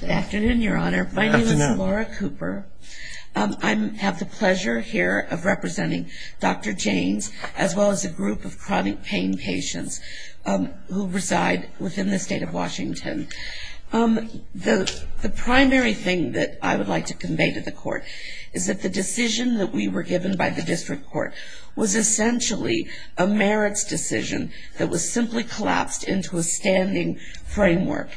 Good afternoon, Your Honor. My name is Laura Cooper. I have the pleasure here of representing Dr. Janes, as well as a group of chronic pain patients who reside within the state of Washington. The primary thing that I would like to convey to the Court is that the decision that we were given by the District Court was essentially a merits decision that was simply collapsed into a standing framework.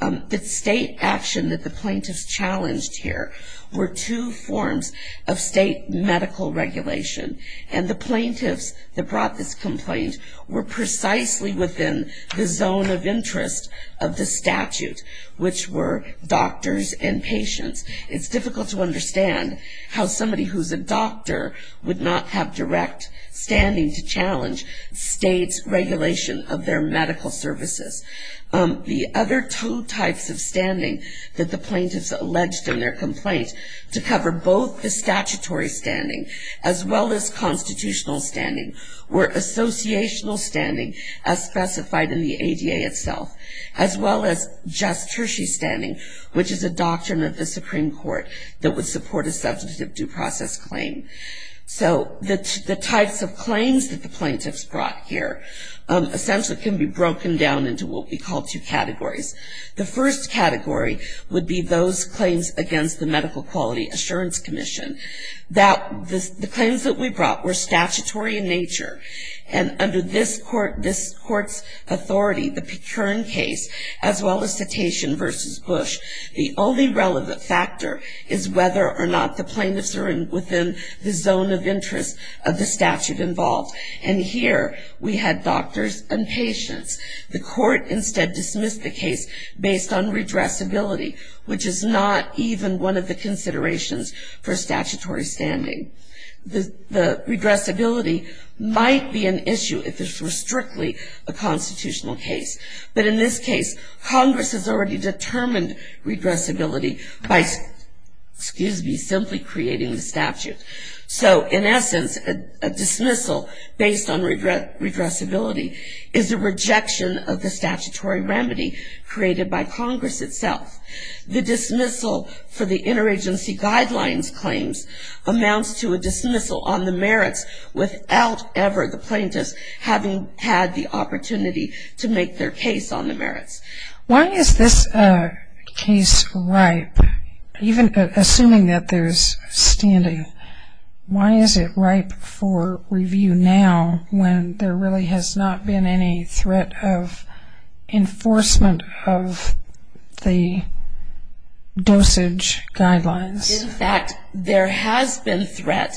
The state action that the plaintiffs challenged here were two forms of state medical regulation, and the plaintiffs that brought this complaint were precisely within the zone of interest of the statute, which were doctors and patients. It's difficult to understand how somebody who's a doctor would not have direct standing to challenge states' regulation of their medical services. The other two types of standing that the plaintiffs alleged in their complaint to cover both the statutory standing, as well as constitutional standing, were associational standing, as specified in the ADA itself, as well as just tertiary standing, which is a doctrine of the Supreme Court that would The claims that the plaintiffs brought here essentially can be broken down into what we call two categories. The first category would be those claims against the Medical Quality Assurance Commission. The claims that we brought were statutory in nature, and under this Court's authority, the Pecurin case, as well as Cetacean v. Bush, the only relevant factor is whether or not the plaintiffs are within the zone of interest of the statute involved. And here we had doctors and patients. The Court instead dismissed the case based on redressability, which is not even one of the considerations for statutory standing. The redressability might be an issue if it's strictly a constitutional case, but in this case, Congress has already determined redressability by simply creating the statute. So in essence, a dismissal based on redressability is a rejection of the statutory remedy created by Congress itself. The dismissal for the interagency guidelines claims amounts to a dismissal on the merits without ever the plaintiffs having had the opportunity to make their case on the merits. Why is this case ripe, even assuming that there's standing? Why is it ripe for review now, when there really has not been any threat of enforcement of the dosage guidelines? In fact, there has been threat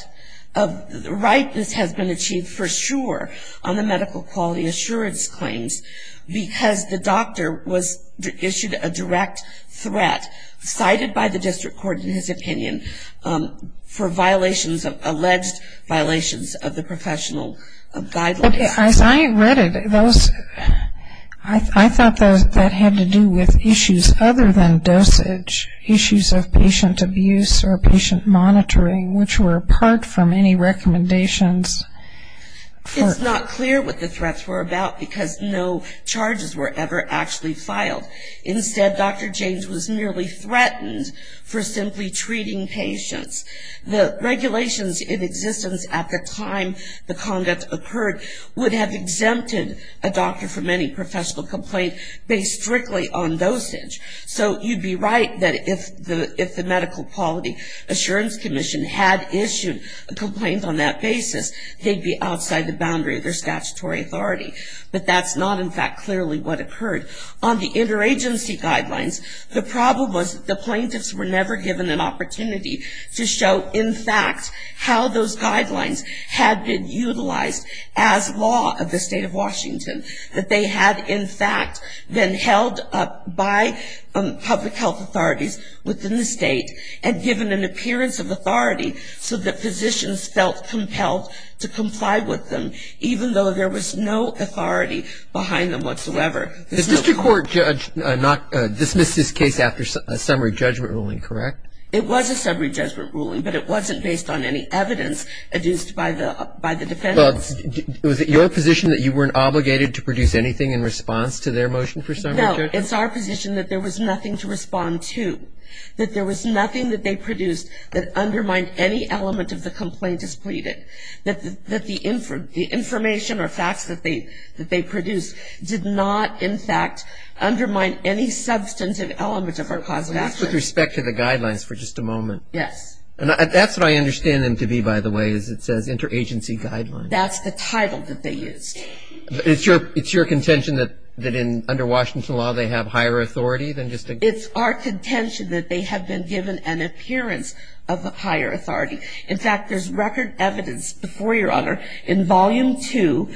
of ripeness has been achieved for sure on the medical quality assurance claims, because the doctor was issued a direct threat, cited by the district court in his opinion, for violations of alleged violations of the professional guidelines. I read it. I thought that had to do with issues other than dosage, issues of patient abuse, or patient monitoring, which were apart from any recommendations. It's not clear what the threats were about, because no charges were ever actually filed. Instead, Dr. James was merely threatened for simply treating patients. The regulations in existence at the time the conduct occurred would have exempted a doctor from any professional complaint based strictly on dosage. So you'd be right that if the medical quality assurance commission had issued a complaint on that basis, they'd be outside the boundary of their statutory authority. But that's not in fact clearly what occurred. On the interagency guidelines, the problem was the plaintiffs were never given an opportunity to show in fact how those guidelines had been utilized as law of the state of Washington. That they had in fact been held up by public health authorities within the state, and given an appearance of authority so that physicians felt compelled to comply with them, even though there was no authority behind them whatsoever. Is Mr. Court judge not dismissed this case after a summary judgment ruling, correct? It was a summary judgment ruling, but it wasn't based on any evidence adduced by the defendants. Was it your position that you weren't obligated to produce anything in response to their motion for summary judgment? No, it's our position that there was nothing to respond to. That there was nothing that they produced that undermined any element of the complaint as pleaded. That the information or facts that they produced did not in fact undermine any substantive element of our cause of action. With respect to the guidelines for just a moment. Yes. That's what I understand them to be, by the way, is it says interagency guidelines. That's the title that they used. It's your contention that under Washington law they have higher authority than just a It's our contention that they have been given an appearance of higher authority. In fact, there's record evidence before your honor, in volume two,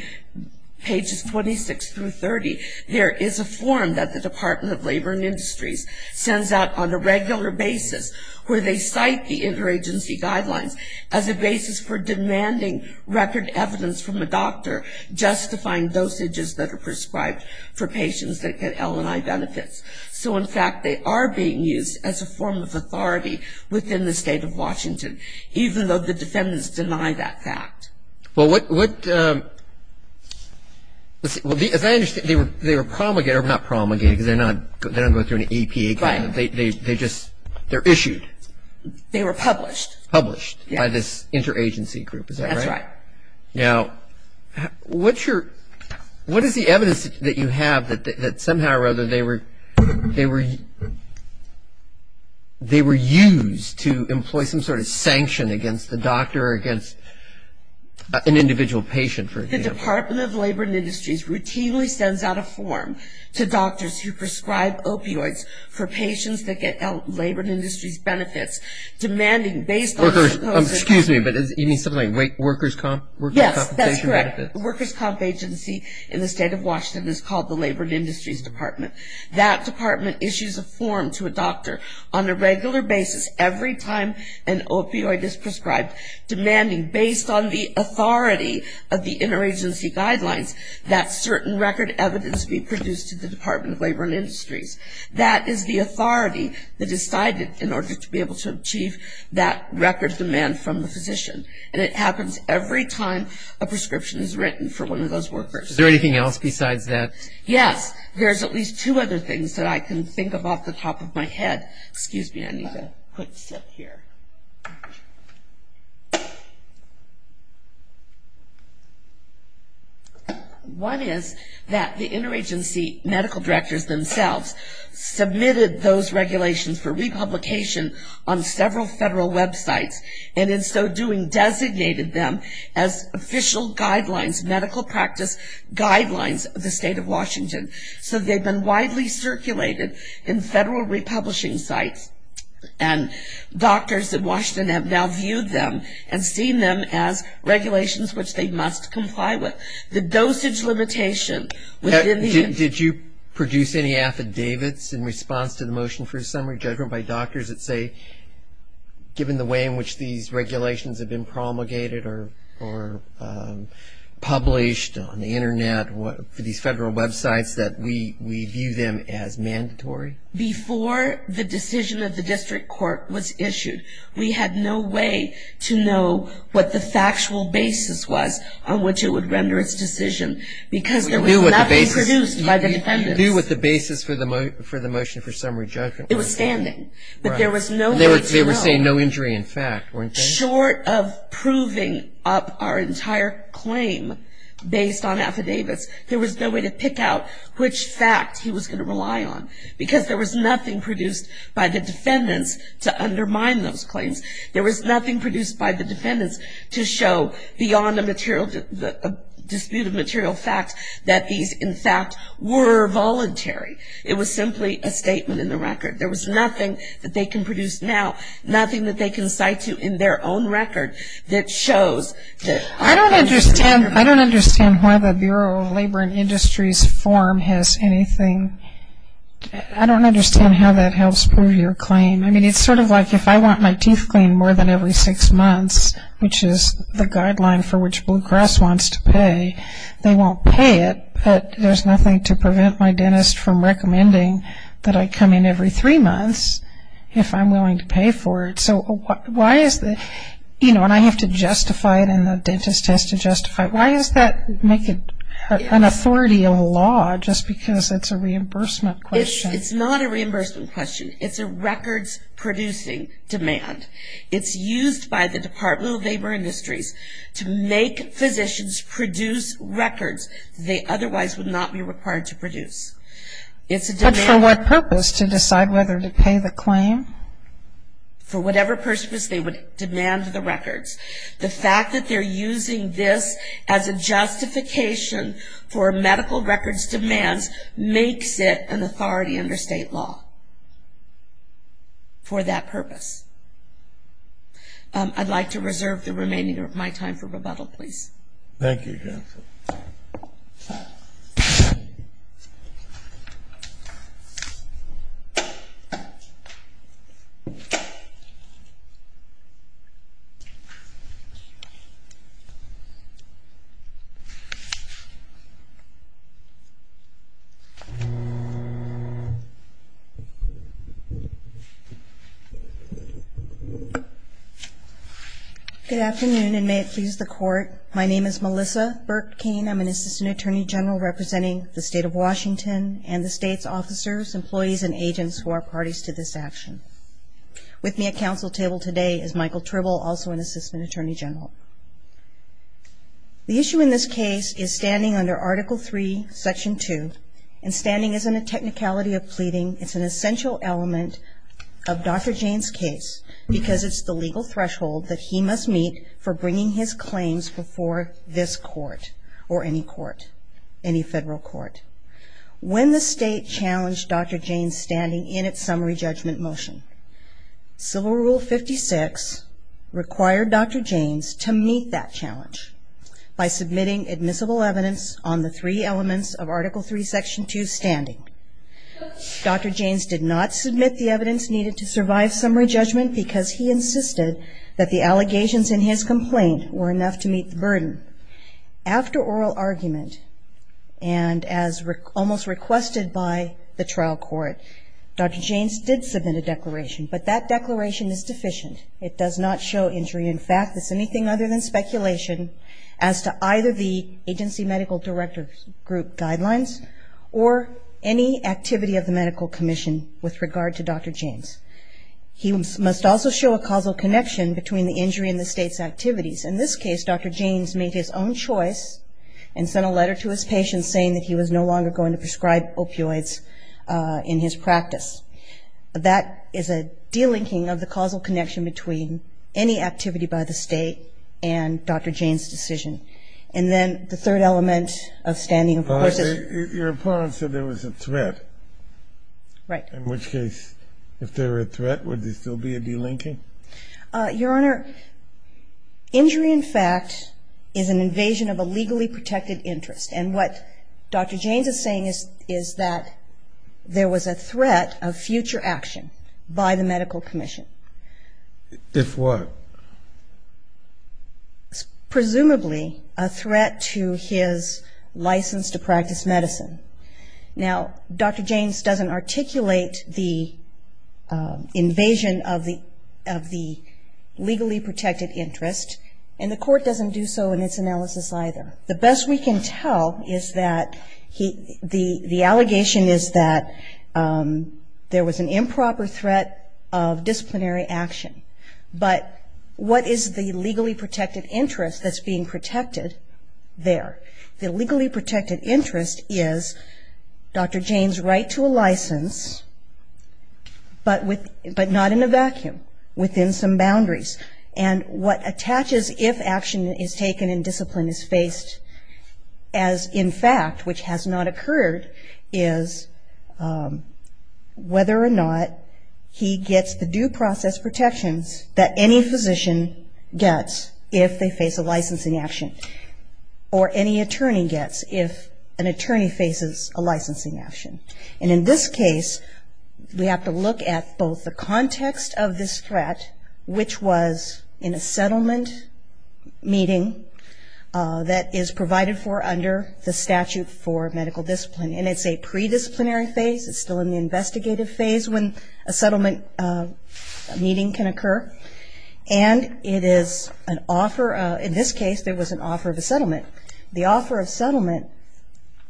pages 26 through 30, there is a form that the Department of Labor and Industries sends out on a regular basis where they cite the interagency guidelines as a basis for demanding record evidence from a doctor justifying dosages that are prescribed for patients that get L&I benefits. So in fact, they are being used as a form of authority within the State of Washington, even though the defendants deny that fact. Well, what, what, as I understand, they were promulgated, or not promulgated, because they're not, they don't go through an APA. Right. They just, they're issued. They were published. Published by this interagency group, is that right? That's right. Now, what's your, what is the evidence that you have that somehow or other they were, they were, they were used to employ some sort of sanction against the doctor or against an individual patient, for example? The Department of Labor and Industries routinely sends out a form to doctors who prescribe opioids for patients that get L&I benefits, demanding based on the supposed Workers, excuse me, but you mean something like workers' comp? Yes, that's correct. Workers' comp agency in the State of Washington is called the Labor and Industries Department. That department issues a form to a doctor on a regular basis every time an opioid is prescribed, demanding based on the authority of the interagency guidelines that certain record evidence be produced to the Department of Labor and Industries. That is the authority that is decided in order to be able to achieve that record demand from the physician. And it happens every time a prescription is written for one of those workers. Is there anything else besides that? Yes. There's at least two other things that I can think of off the top of my head. Excuse me, I need a quick sip here. One is that the interagency medical directors themselves submitted those regulations for republication on several federal websites and in so doing designated them as official guidelines, medical practice guidelines of the State of Washington. So they've been widely circulated in federal republishing sites, and doctors in Washington have now viewed them and seen them as regulations which they must comply with. The dosage limitation within the... Did you produce any affidavits in response to the motion for a summary judgment by doctors that say given the way in which these regulations have been promulgated or published on the basis that we view them as mandatory? Before the decision of the district court was issued, we had no way to know what the factual basis was on which it would render its decision because there was nothing produced by the defendants. You knew what the basis for the motion for summary judgment was? It was standing. But there was no way to know. They were saying no injury in fact, weren't they? So short of proving up our entire claim based on affidavits, there was no way to pick out which fact he was going to rely on because there was nothing produced by the defendants to undermine those claims. There was nothing produced by the defendants to show beyond a dispute of material fact that these in fact were voluntary. It was simply a statement in the record. There was nothing that they can produce now, nothing that they can cite to in their own record that shows that there is a standard. I don't understand why the Bureau of Labor and Industries form has anything. I don't understand how that helps prove your claim. I mean, it's sort of like if I want my teeth cleaned more than every six months, which is the guideline for which Blue Cross wants to pay, they won't pay it, but there's nothing to prevent my dentist from recommending that I come in every three months if I'm willing to pay for it. So why is that? You know, and I have to justify it and the dentist has to justify it. Why does that make it an authority of law just because it's a reimbursement question? It's not a reimbursement question. It's a records-producing demand. It's used by the Department of Labor and Industries to make physicians produce records. They otherwise would not be required to produce. It's a demand. But for what purpose to decide whether to pay the claim? For whatever purpose they would demand the records. The fact that they're using this as a justification for medical records demands makes it an authority under state law for that purpose. I'd like to reserve the remaining of my time for rebuttal, please. Thank you, counsel. Thank you. Good afternoon, and may it please the Court, my name is Melissa Burke-Cain. I'm an Assistant Attorney General representing the State of Washington and the state's officers, employees, and agents who are parties to this action. With me at counsel table today is Michael Tribble, also an Assistant Attorney General. The issue in this case is standing under Article III, Section 2, and standing isn't a technicality of pleading. It's an essential element of Dr. Jayne's case because it's the legal threshold that he must meet for bringing his claims before this court, or any court, any federal court. When the state challenged Dr. Jayne's standing in its summary judgment motion, Civil Rule 56 required Dr. Jayne's to meet that challenge by submitting admissible evidence on the three elements of Article III, Section 2, standing. Dr. Jayne's did not submit the evidence needed to survive summary judgment because he insisted that the allegations in his complaint were enough to meet the burden. After oral argument, and as almost requested by the trial court, Dr. Jayne's did submit a declaration, but that declaration is deficient. It does not show injury. In fact, it's anything other than speculation as to either the agency medical director group guidelines or any activity of the medical commission with regard to Dr. Jayne's. He must also show a causal connection between the injury and the state's activities. In this case, Dr. Jayne's made his own choice and sent a letter to his patient saying that he was no longer going to prescribe opioids in his practice. That is a delinking of the causal connection between any activity by the state and Dr. Jayne's decision. And then the third element of standing, of course, is... If there were a threat, would there still be a delinking? Your Honor, injury, in fact, is an invasion of a legally protected interest. And what Dr. Jayne's is saying is that there was a threat of future action by the medical commission. If what? Presumably a threat to his license to practice medicine. Now, Dr. Jayne's doesn't articulate the invasion of the legally protected interest, and the court doesn't do so in its analysis either. The best we can tell is that the allegation is that there was an improper threat of disciplinary action. But what is the legally protected interest that's being protected there? The legally protected interest is Dr. Jayne's right to a license, but not in a vacuum, within some boundaries. And what attaches if action is taken and discipline is faced as, in fact, which has not occurred, is whether or not he gets the due process protections that any physician gets if they face a licensing action. Or any attorney gets if an attorney faces a licensing action. And in this case, we have to look at both the context of this threat, which was in a settlement meeting that is provided for under the statute for medical discipline. And it's a predisciplinary phase. It's still in the investigative phase when a settlement meeting can occur. And it is an offer. In this case, there was an offer of a settlement. The offer of settlement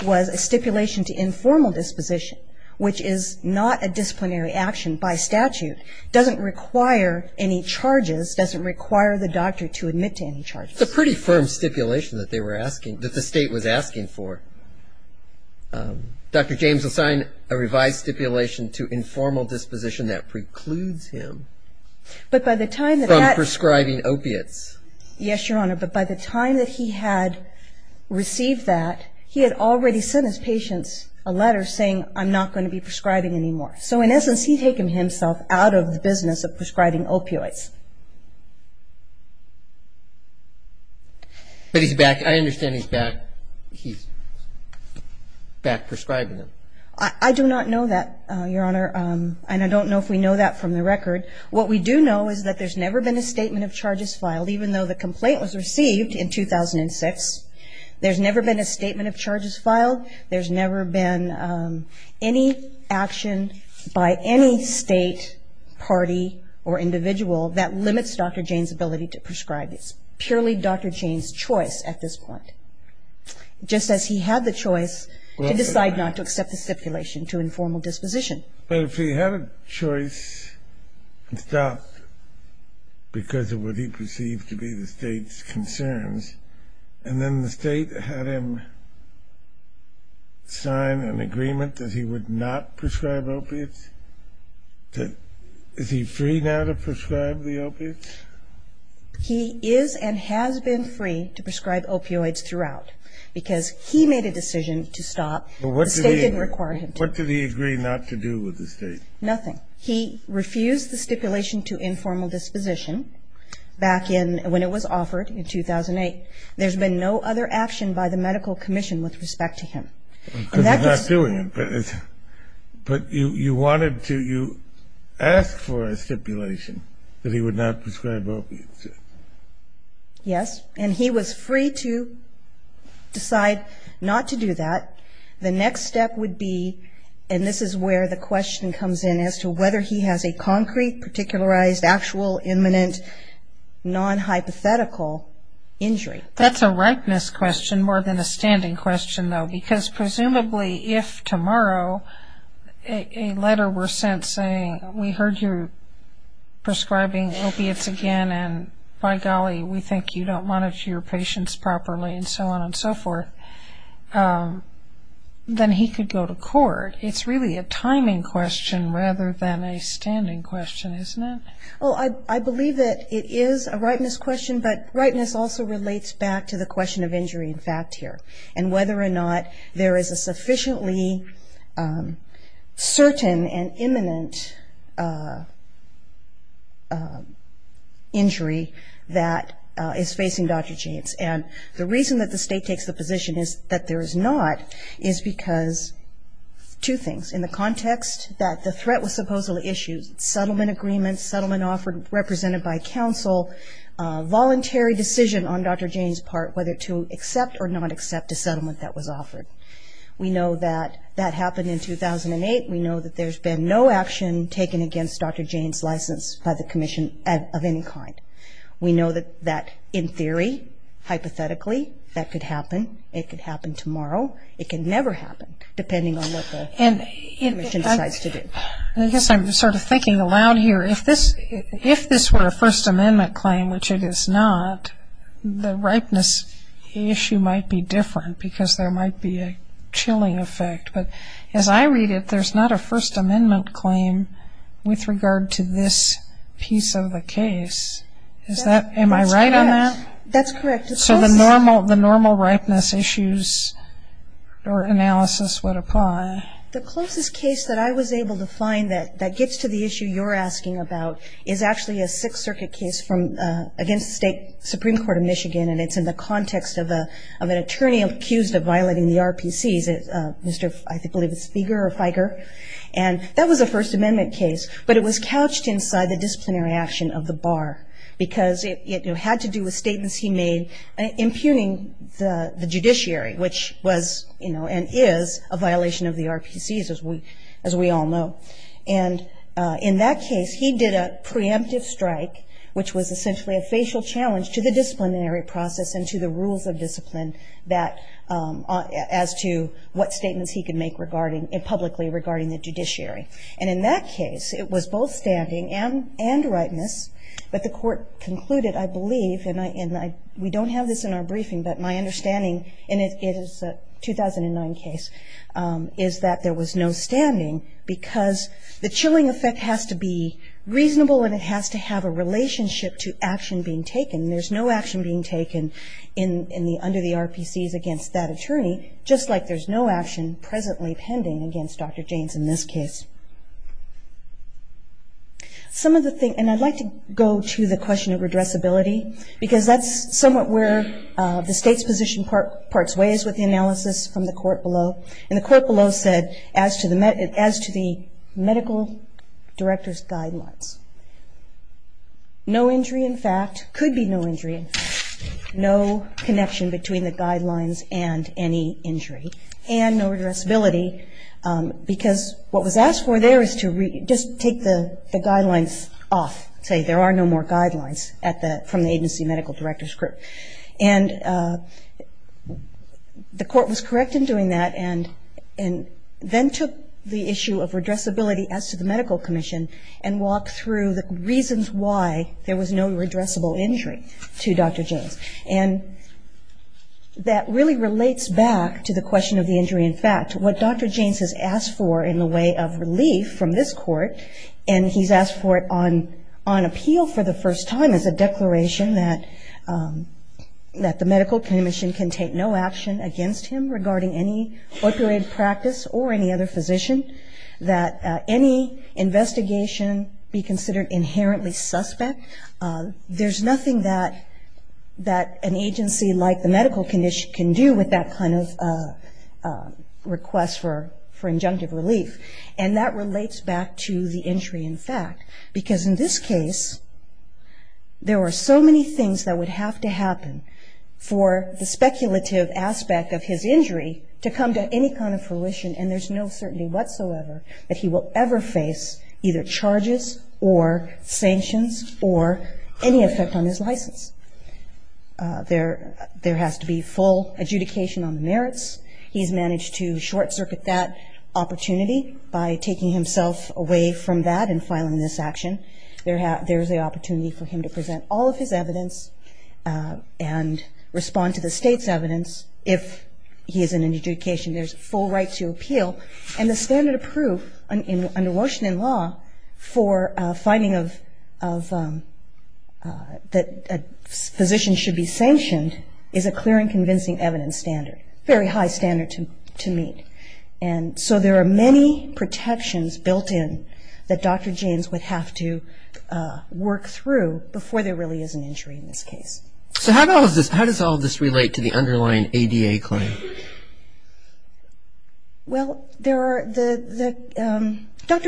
was a stipulation to informal disposition, which is not a disciplinary action by statute, doesn't require any charges, doesn't require the doctor to admit to any charges. It's a pretty firm stipulation that they were asking, that the state was asking for. Dr. Jayne's assigned a revised stipulation to informal disposition that precludes him. But by the time that that. From prescribing opiates. Yes, Your Honor. But by the time that he had received that, he had already sent his patients a letter saying, I'm not going to be prescribing anymore. So in essence, he had taken himself out of the business of prescribing opioids. But he's back. I understand he's back. He's back prescribing them. I do not know that, Your Honor. And I don't know if we know that from the record. What we do know is that there's never been a statement of charges filed, even though the complaint was received in 2006. There's never been a statement of charges filed. There's never been any action by any state, party, or individual that limits Dr. Jayne's ability to prescribe. It's purely Dr. Jayne's choice at this point, just as he had the choice to decide not to accept the stipulation to informal disposition. But if he had a choice and stopped because of what he perceived to be the state's concerns, and then the state had him sign an agreement that he would not prescribe opiates, is he free now to prescribe the opiates? He is and has been free to prescribe opioids throughout because he made a decision to stop. The state didn't require him to. What did he agree not to do with the state? Nothing. He refused the stipulation to informal disposition back when it was offered in 2008. There's been no other action by the medical commission with respect to him. Because he's not doing it. But you wanted to ask for a stipulation that he would not prescribe opiates. Yes. And he was free to decide not to do that. The next step would be, and this is where the question comes in, as to whether he has a concrete, particularized, actual, imminent, non-hypothetical injury. That's a rightness question more than a standing question, though, because presumably if tomorrow a letter were sent saying, we heard you're prescribing opiates again, and by golly, we think you don't monitor your patients properly, and so on and so forth, then he could go to court. It's really a timing question rather than a standing question, isn't it? Well, I believe that it is a rightness question, but rightness also relates back to the question of injury in fact here, and whether or not there is a sufficiently certain and imminent injury that is facing Dr. Jaynes. And the reason that the state takes the position that there is not is because two things. In the context that the threat was supposedly issued, settlement agreement, settlement offered, represented by counsel, voluntary decision on Dr. Jaynes' part whether to accept or not accept a settlement that was offered. We know that that happened in 2008. We know that there's been no action taken against Dr. Jaynes' license by the commission of any kind. We know that in theory, hypothetically, that could happen. It could happen tomorrow. It can never happen depending on what the commission decides to do. I guess I'm sort of thinking aloud here. If this were a First Amendment claim, which it is not, the rightness issue might be different because there might be a chilling effect. But as I read it, there's not a First Amendment claim with regard to this piece of the case. Am I right on that? That's correct. So the normal rightness issues or analysis would apply. The closest case that I was able to find that gets to the issue you're asking about is actually a Sixth Circuit case against the State Supreme Court of Michigan, and it's in the context of an attorney accused of violating the RPCs, Mr. I believe it's Feger or Feiger. That was a First Amendment case, but it was couched inside the disciplinary action of the bar because it had to do with statements he made impugning the judiciary, which was and is a violation of the RPCs, as we all know. And in that case, he did a preemptive strike, which was essentially a facial challenge to the disciplinary process and to the rules of discipline as to what statements he could make publicly regarding the judiciary. And in that case, it was both standing and rightness, but the court concluded, I believe, and we don't have this in our briefing, but my understanding, and it is a 2009 case, is that there was no standing because the chilling effect has to be reasonable and it has to have a relationship to action being taken. There's no action being taken under the RPCs against that attorney, just like there's no action presently pending against Dr. Jaynes in this case. And I'd like to go to the question of redressability because that's somewhat where the state's position parts ways with the analysis from the court below. And the court below said, as to the medical director's guidelines, no injury in fact, could be no injury in fact, no connection between the guidelines and any injury, and no redressability because what was asked for there is to just take the guidelines off, say there are no more guidelines from the agency medical director's group. And the court was correct in doing that and then took the issue of redressability as to the medical commission and walked through the reasons why there was no redressable injury to Dr. Jaynes. And that really relates back to the question of the injury in fact. What Dr. Jaynes has asked for in the way of relief from this court, and he's asked for it on appeal for the first time as a declaration that the medical commission can take no action against him regarding any opioid practice or any other physician, that any investigation be considered inherently suspect. There's nothing that an agency like the medical commission can do with that kind of request for injunctive relief. And that relates back to the injury in fact, because in this case there were so many things that would have to happen for the speculative aspect of his injury to come to any kind of fruition and there's no certainty whatsoever that he will ever face either charges or sanctions or any effect on his license. He's managed to short-circuit that opportunity by taking himself away from that and filing this action. There's the opportunity for him to present all of his evidence and respond to the state's evidence if he is in an adjudication. There's full right to appeal. And the standard of proof under Washington law for finding that a physician should be sanctioned is a clear and convincing evidence standard, very high standard to meet. And so there are many protections built in that Dr. Jaynes would have to work through before there really is an injury in this case. So how does all of this relate to the underlying ADA claim? Well, Dr.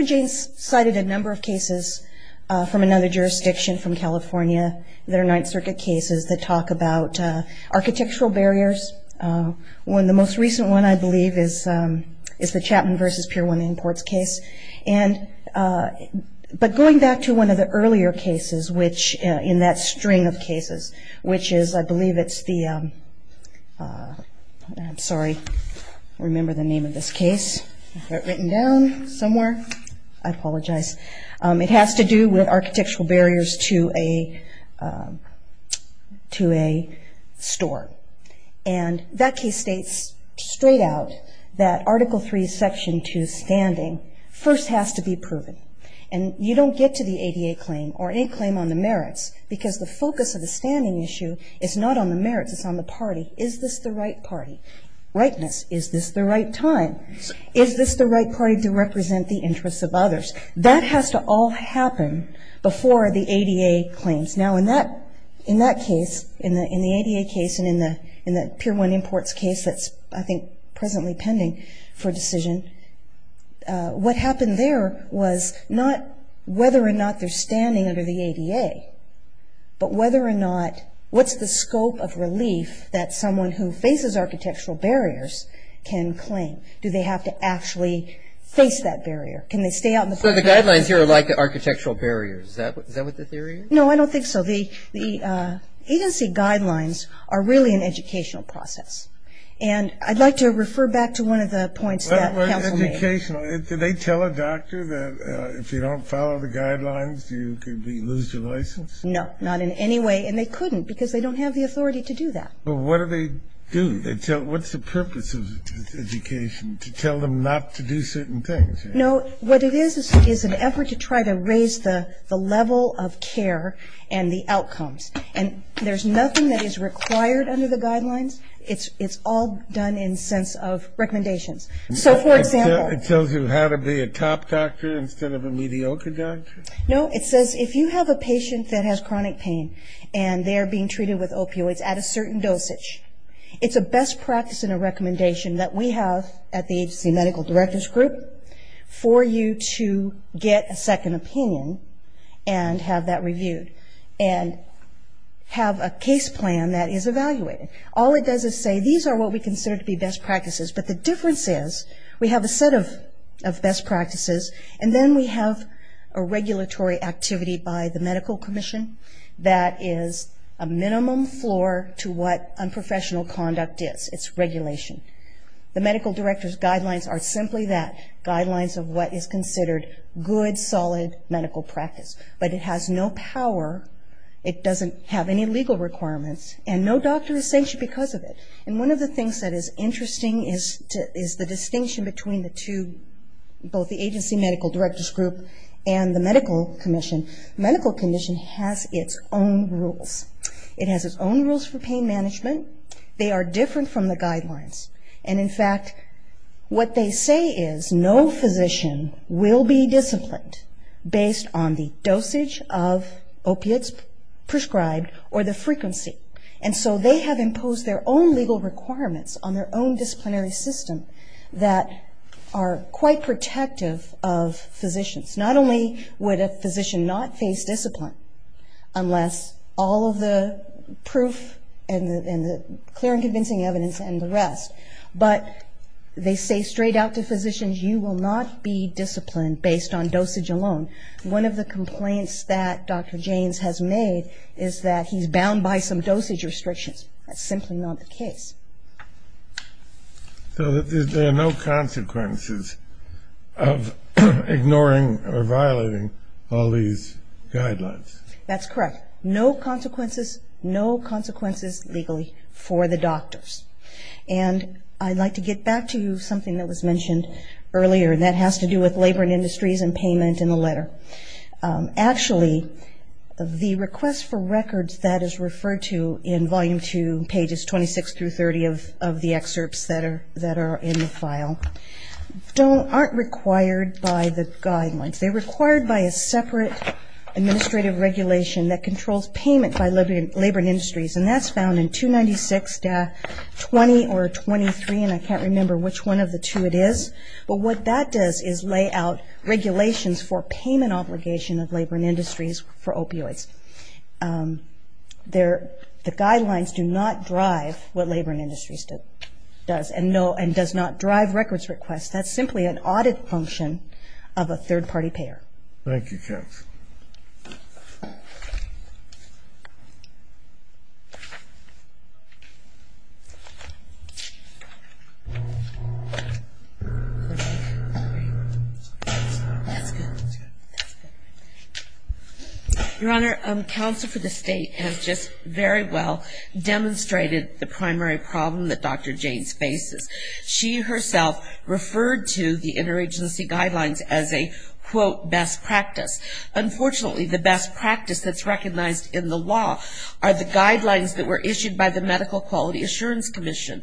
Jaynes cited a number of cases from another jurisdiction, from California, that are Ninth Circuit cases that talk about architectural barriers. One of the most recent ones, I believe, is the Chapman v. Pier 1 Imports case. But going back to one of the earlier cases in that string of cases, which is, I believe it's the, I'm sorry, I don't remember the name of this case. I've got it written down somewhere. I apologize. It has to do with architectural barriers to a store. And that case states straight out that Article III, Section 2 standing first has to be proven. And you don't get to the ADA claim or any claim on the merits because the focus of the standing issue is not on the merits, it's on the party. Is this the right party? Rightness, is this the right time? Is this the right party to represent the interests of others? That has to all happen before the ADA claims. Now, in that case, in the ADA case and in the Pier 1 Imports case that's, I think, presently pending for decision, what happened there was not whether or not they're standing under the ADA, but whether or not what's the scope of relief that someone who faces architectural barriers can claim? Do they have to actually face that barrier? Can they stay out in the park? So the guidelines here are like the architectural barriers. Is that what the theory is? No, I don't think so. The agency guidelines are really an educational process. And I'd like to refer back to one of the points that counsel made. Educational. Do they tell a doctor that if you don't follow the guidelines you could lose your license? No, not in any way. And they couldn't because they don't have the authority to do that. Well, what do they do? What's the purpose of education, to tell them not to do certain things? No, what it is is an effort to try to raise the level of care and the outcomes. And there's nothing that is required under the guidelines. It's all done in the sense of recommendations. So, for example. It tells you how to be a top doctor instead of a mediocre doctor? No, it says if you have a patient that has chronic pain and they're being treated with opioids at a certain dosage, it's a best practice and a recommendation that we have at the agency medical directors group for you to get a second opinion and have that reviewed and have a case plan that is evaluated. All it does is say these are what we consider to be best practices, but the difference is we have a set of best practices and then we have a regulatory activity by the medical commission that is a minimum floor to what unprofessional conduct is. It's regulation. The medical director's guidelines are simply that, guidelines of what is considered good, solid medical practice. But it has no power, it doesn't have any legal requirements, and no doctor is sanctioned because of it. And one of the things that is interesting is the distinction between the two, both the agency medical directors group and the medical commission. The medical commission has its own rules. It has its own rules for pain management. They are different from the guidelines. And in fact, what they say is no physician will be disciplined based on the dosage of opiates prescribed or the frequency. And so they have imposed their own legal requirements on their own disciplinary system that are quite protective of physicians. Not only would a physician not face discipline unless all of the proof and the clear and convincing evidence and the rest, but they say straight out to physicians, you will not be disciplined based on dosage alone. One of the complaints that Dr. Janes has made is that he's bound by some dosage restrictions. That's simply not the case. So there are no consequences of ignoring or violating all these guidelines. That's correct. No consequences, no consequences legally for the doctors. And I'd like to get back to something that was mentioned earlier, and that has to do with labor and industries and payment in the letter. Actually, the request for records that is referred to in Volume 2, pages 26 through 30 of the excerpts that are in the file, aren't required by the guidelines. They're required by a separate administrative regulation that controls payment by labor and industries, and that's found in 296.20 or 23, and I can't remember which one of the two it is. But what that does is lay out regulations for payment obligation of labor and industries for opioids. The guidelines do not drive what labor and industries does, and does not drive records requests. That's simply an audit function of a third-party payer. Thank you, Counsel. Your Honor, Counsel for the State has just very well demonstrated the primary problem that Dr. James faces. She herself referred to the interagency guidelines as a, quote, best practice. Unfortunately, the best practice that's recognized in the law are the guidelines that were issued by the Medical Quality Assurance Commission.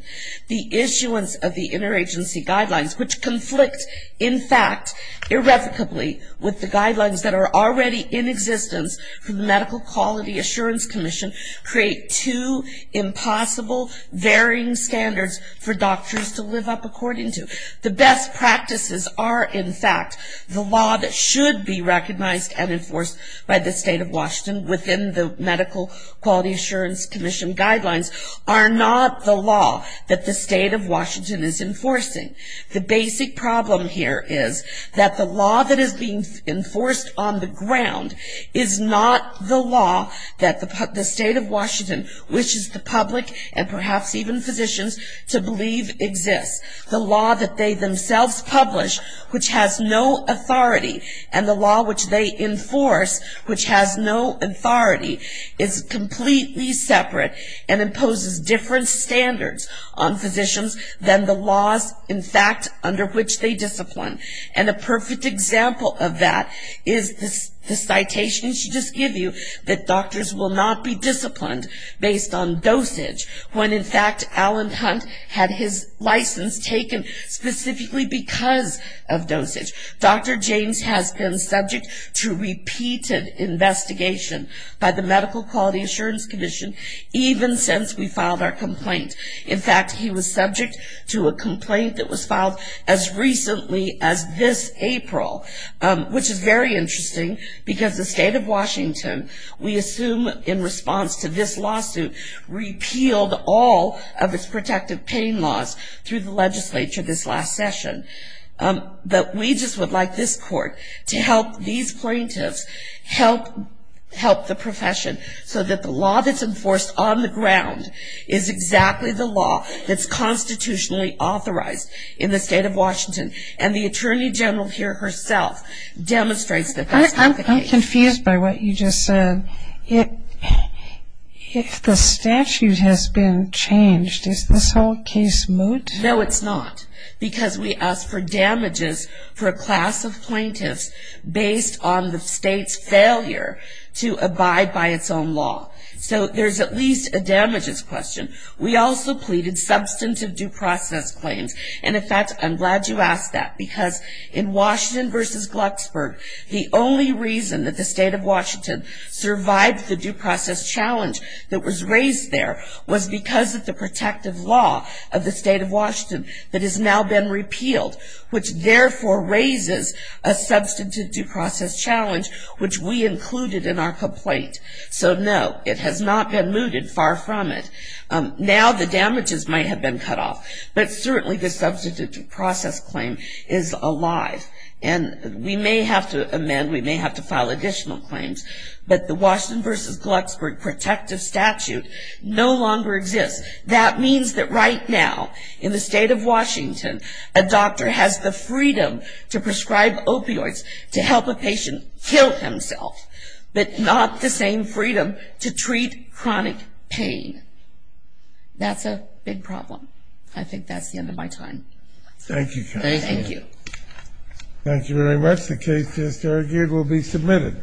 The issuance of the interagency guidelines, which conflict, in fact, irrevocably, with the guidelines that are already in existence from the Medical Quality Assurance Commission, create two impossible, varying standards for doctors to live up according to. The best practices are, in fact, the law that should be recognized and enforced by the State of Washington within the Medical Quality Assurance Commission guidelines, are not the law that the State of Washington is enforcing. The basic problem here is that the law that is being enforced on the ground is not the law that the State of Washington wishes the public, and perhaps even physicians, to believe exists. The law that they themselves publish, which has no authority, and the law which they enforce, which has no authority, is completely separate and imposes different standards on physicians than the laws, in fact, under which they discipline. And a perfect example of that is the citation she just gave you, that doctors will not be disciplined based on dosage, when, in fact, Alan Hunt had his license taken specifically because of dosage. Dr. James has been subject to repeated investigation by the Medical Quality Assurance Commission, even since we filed our complaint. In fact, he was subject to a complaint that was filed as recently as this April, which is very interesting because the State of Washington, we assume in response to this lawsuit, repealed all of its protective pain laws through the legislature this last session. But we just would like this court to help these plaintiffs help the profession so that the law that's enforced on the ground is exactly the law that's constitutionally authorized in the State of Washington. And the Attorney General here herself demonstrates that that's not the case. I'm confused by what you just said. If the statute has been changed, is this whole case moot? No, it's not, because we ask for damages for a class of plaintiffs based on the State's failure to abide by its own law. So there's at least a damages question. We also pleaded substantive due process claims. And, in fact, I'm glad you asked that, because in Washington v. Glucksburg, the only reason that the State of Washington survived the due process challenge that was raised there was because of the protective law of the State of Washington that has now been repealed, which therefore raises a substantive due process challenge, which we included in our complaint. So, no, it has not been mooted. Far from it. Now the damages might have been cut off, but certainly the substantive due process claim is alive. And we may have to amend, we may have to file additional claims, but the Washington v. Glucksburg protective statute no longer exists. That means that right now, in the State of Washington, a doctor has the freedom to prescribe opioids to help a patient kill himself, but not the same freedom to treat chronic pain. That's a big problem. I think that's the end of my time. Thank you, counsel. Thank you. Thank you very much. The case is adjourned. It will be submitted.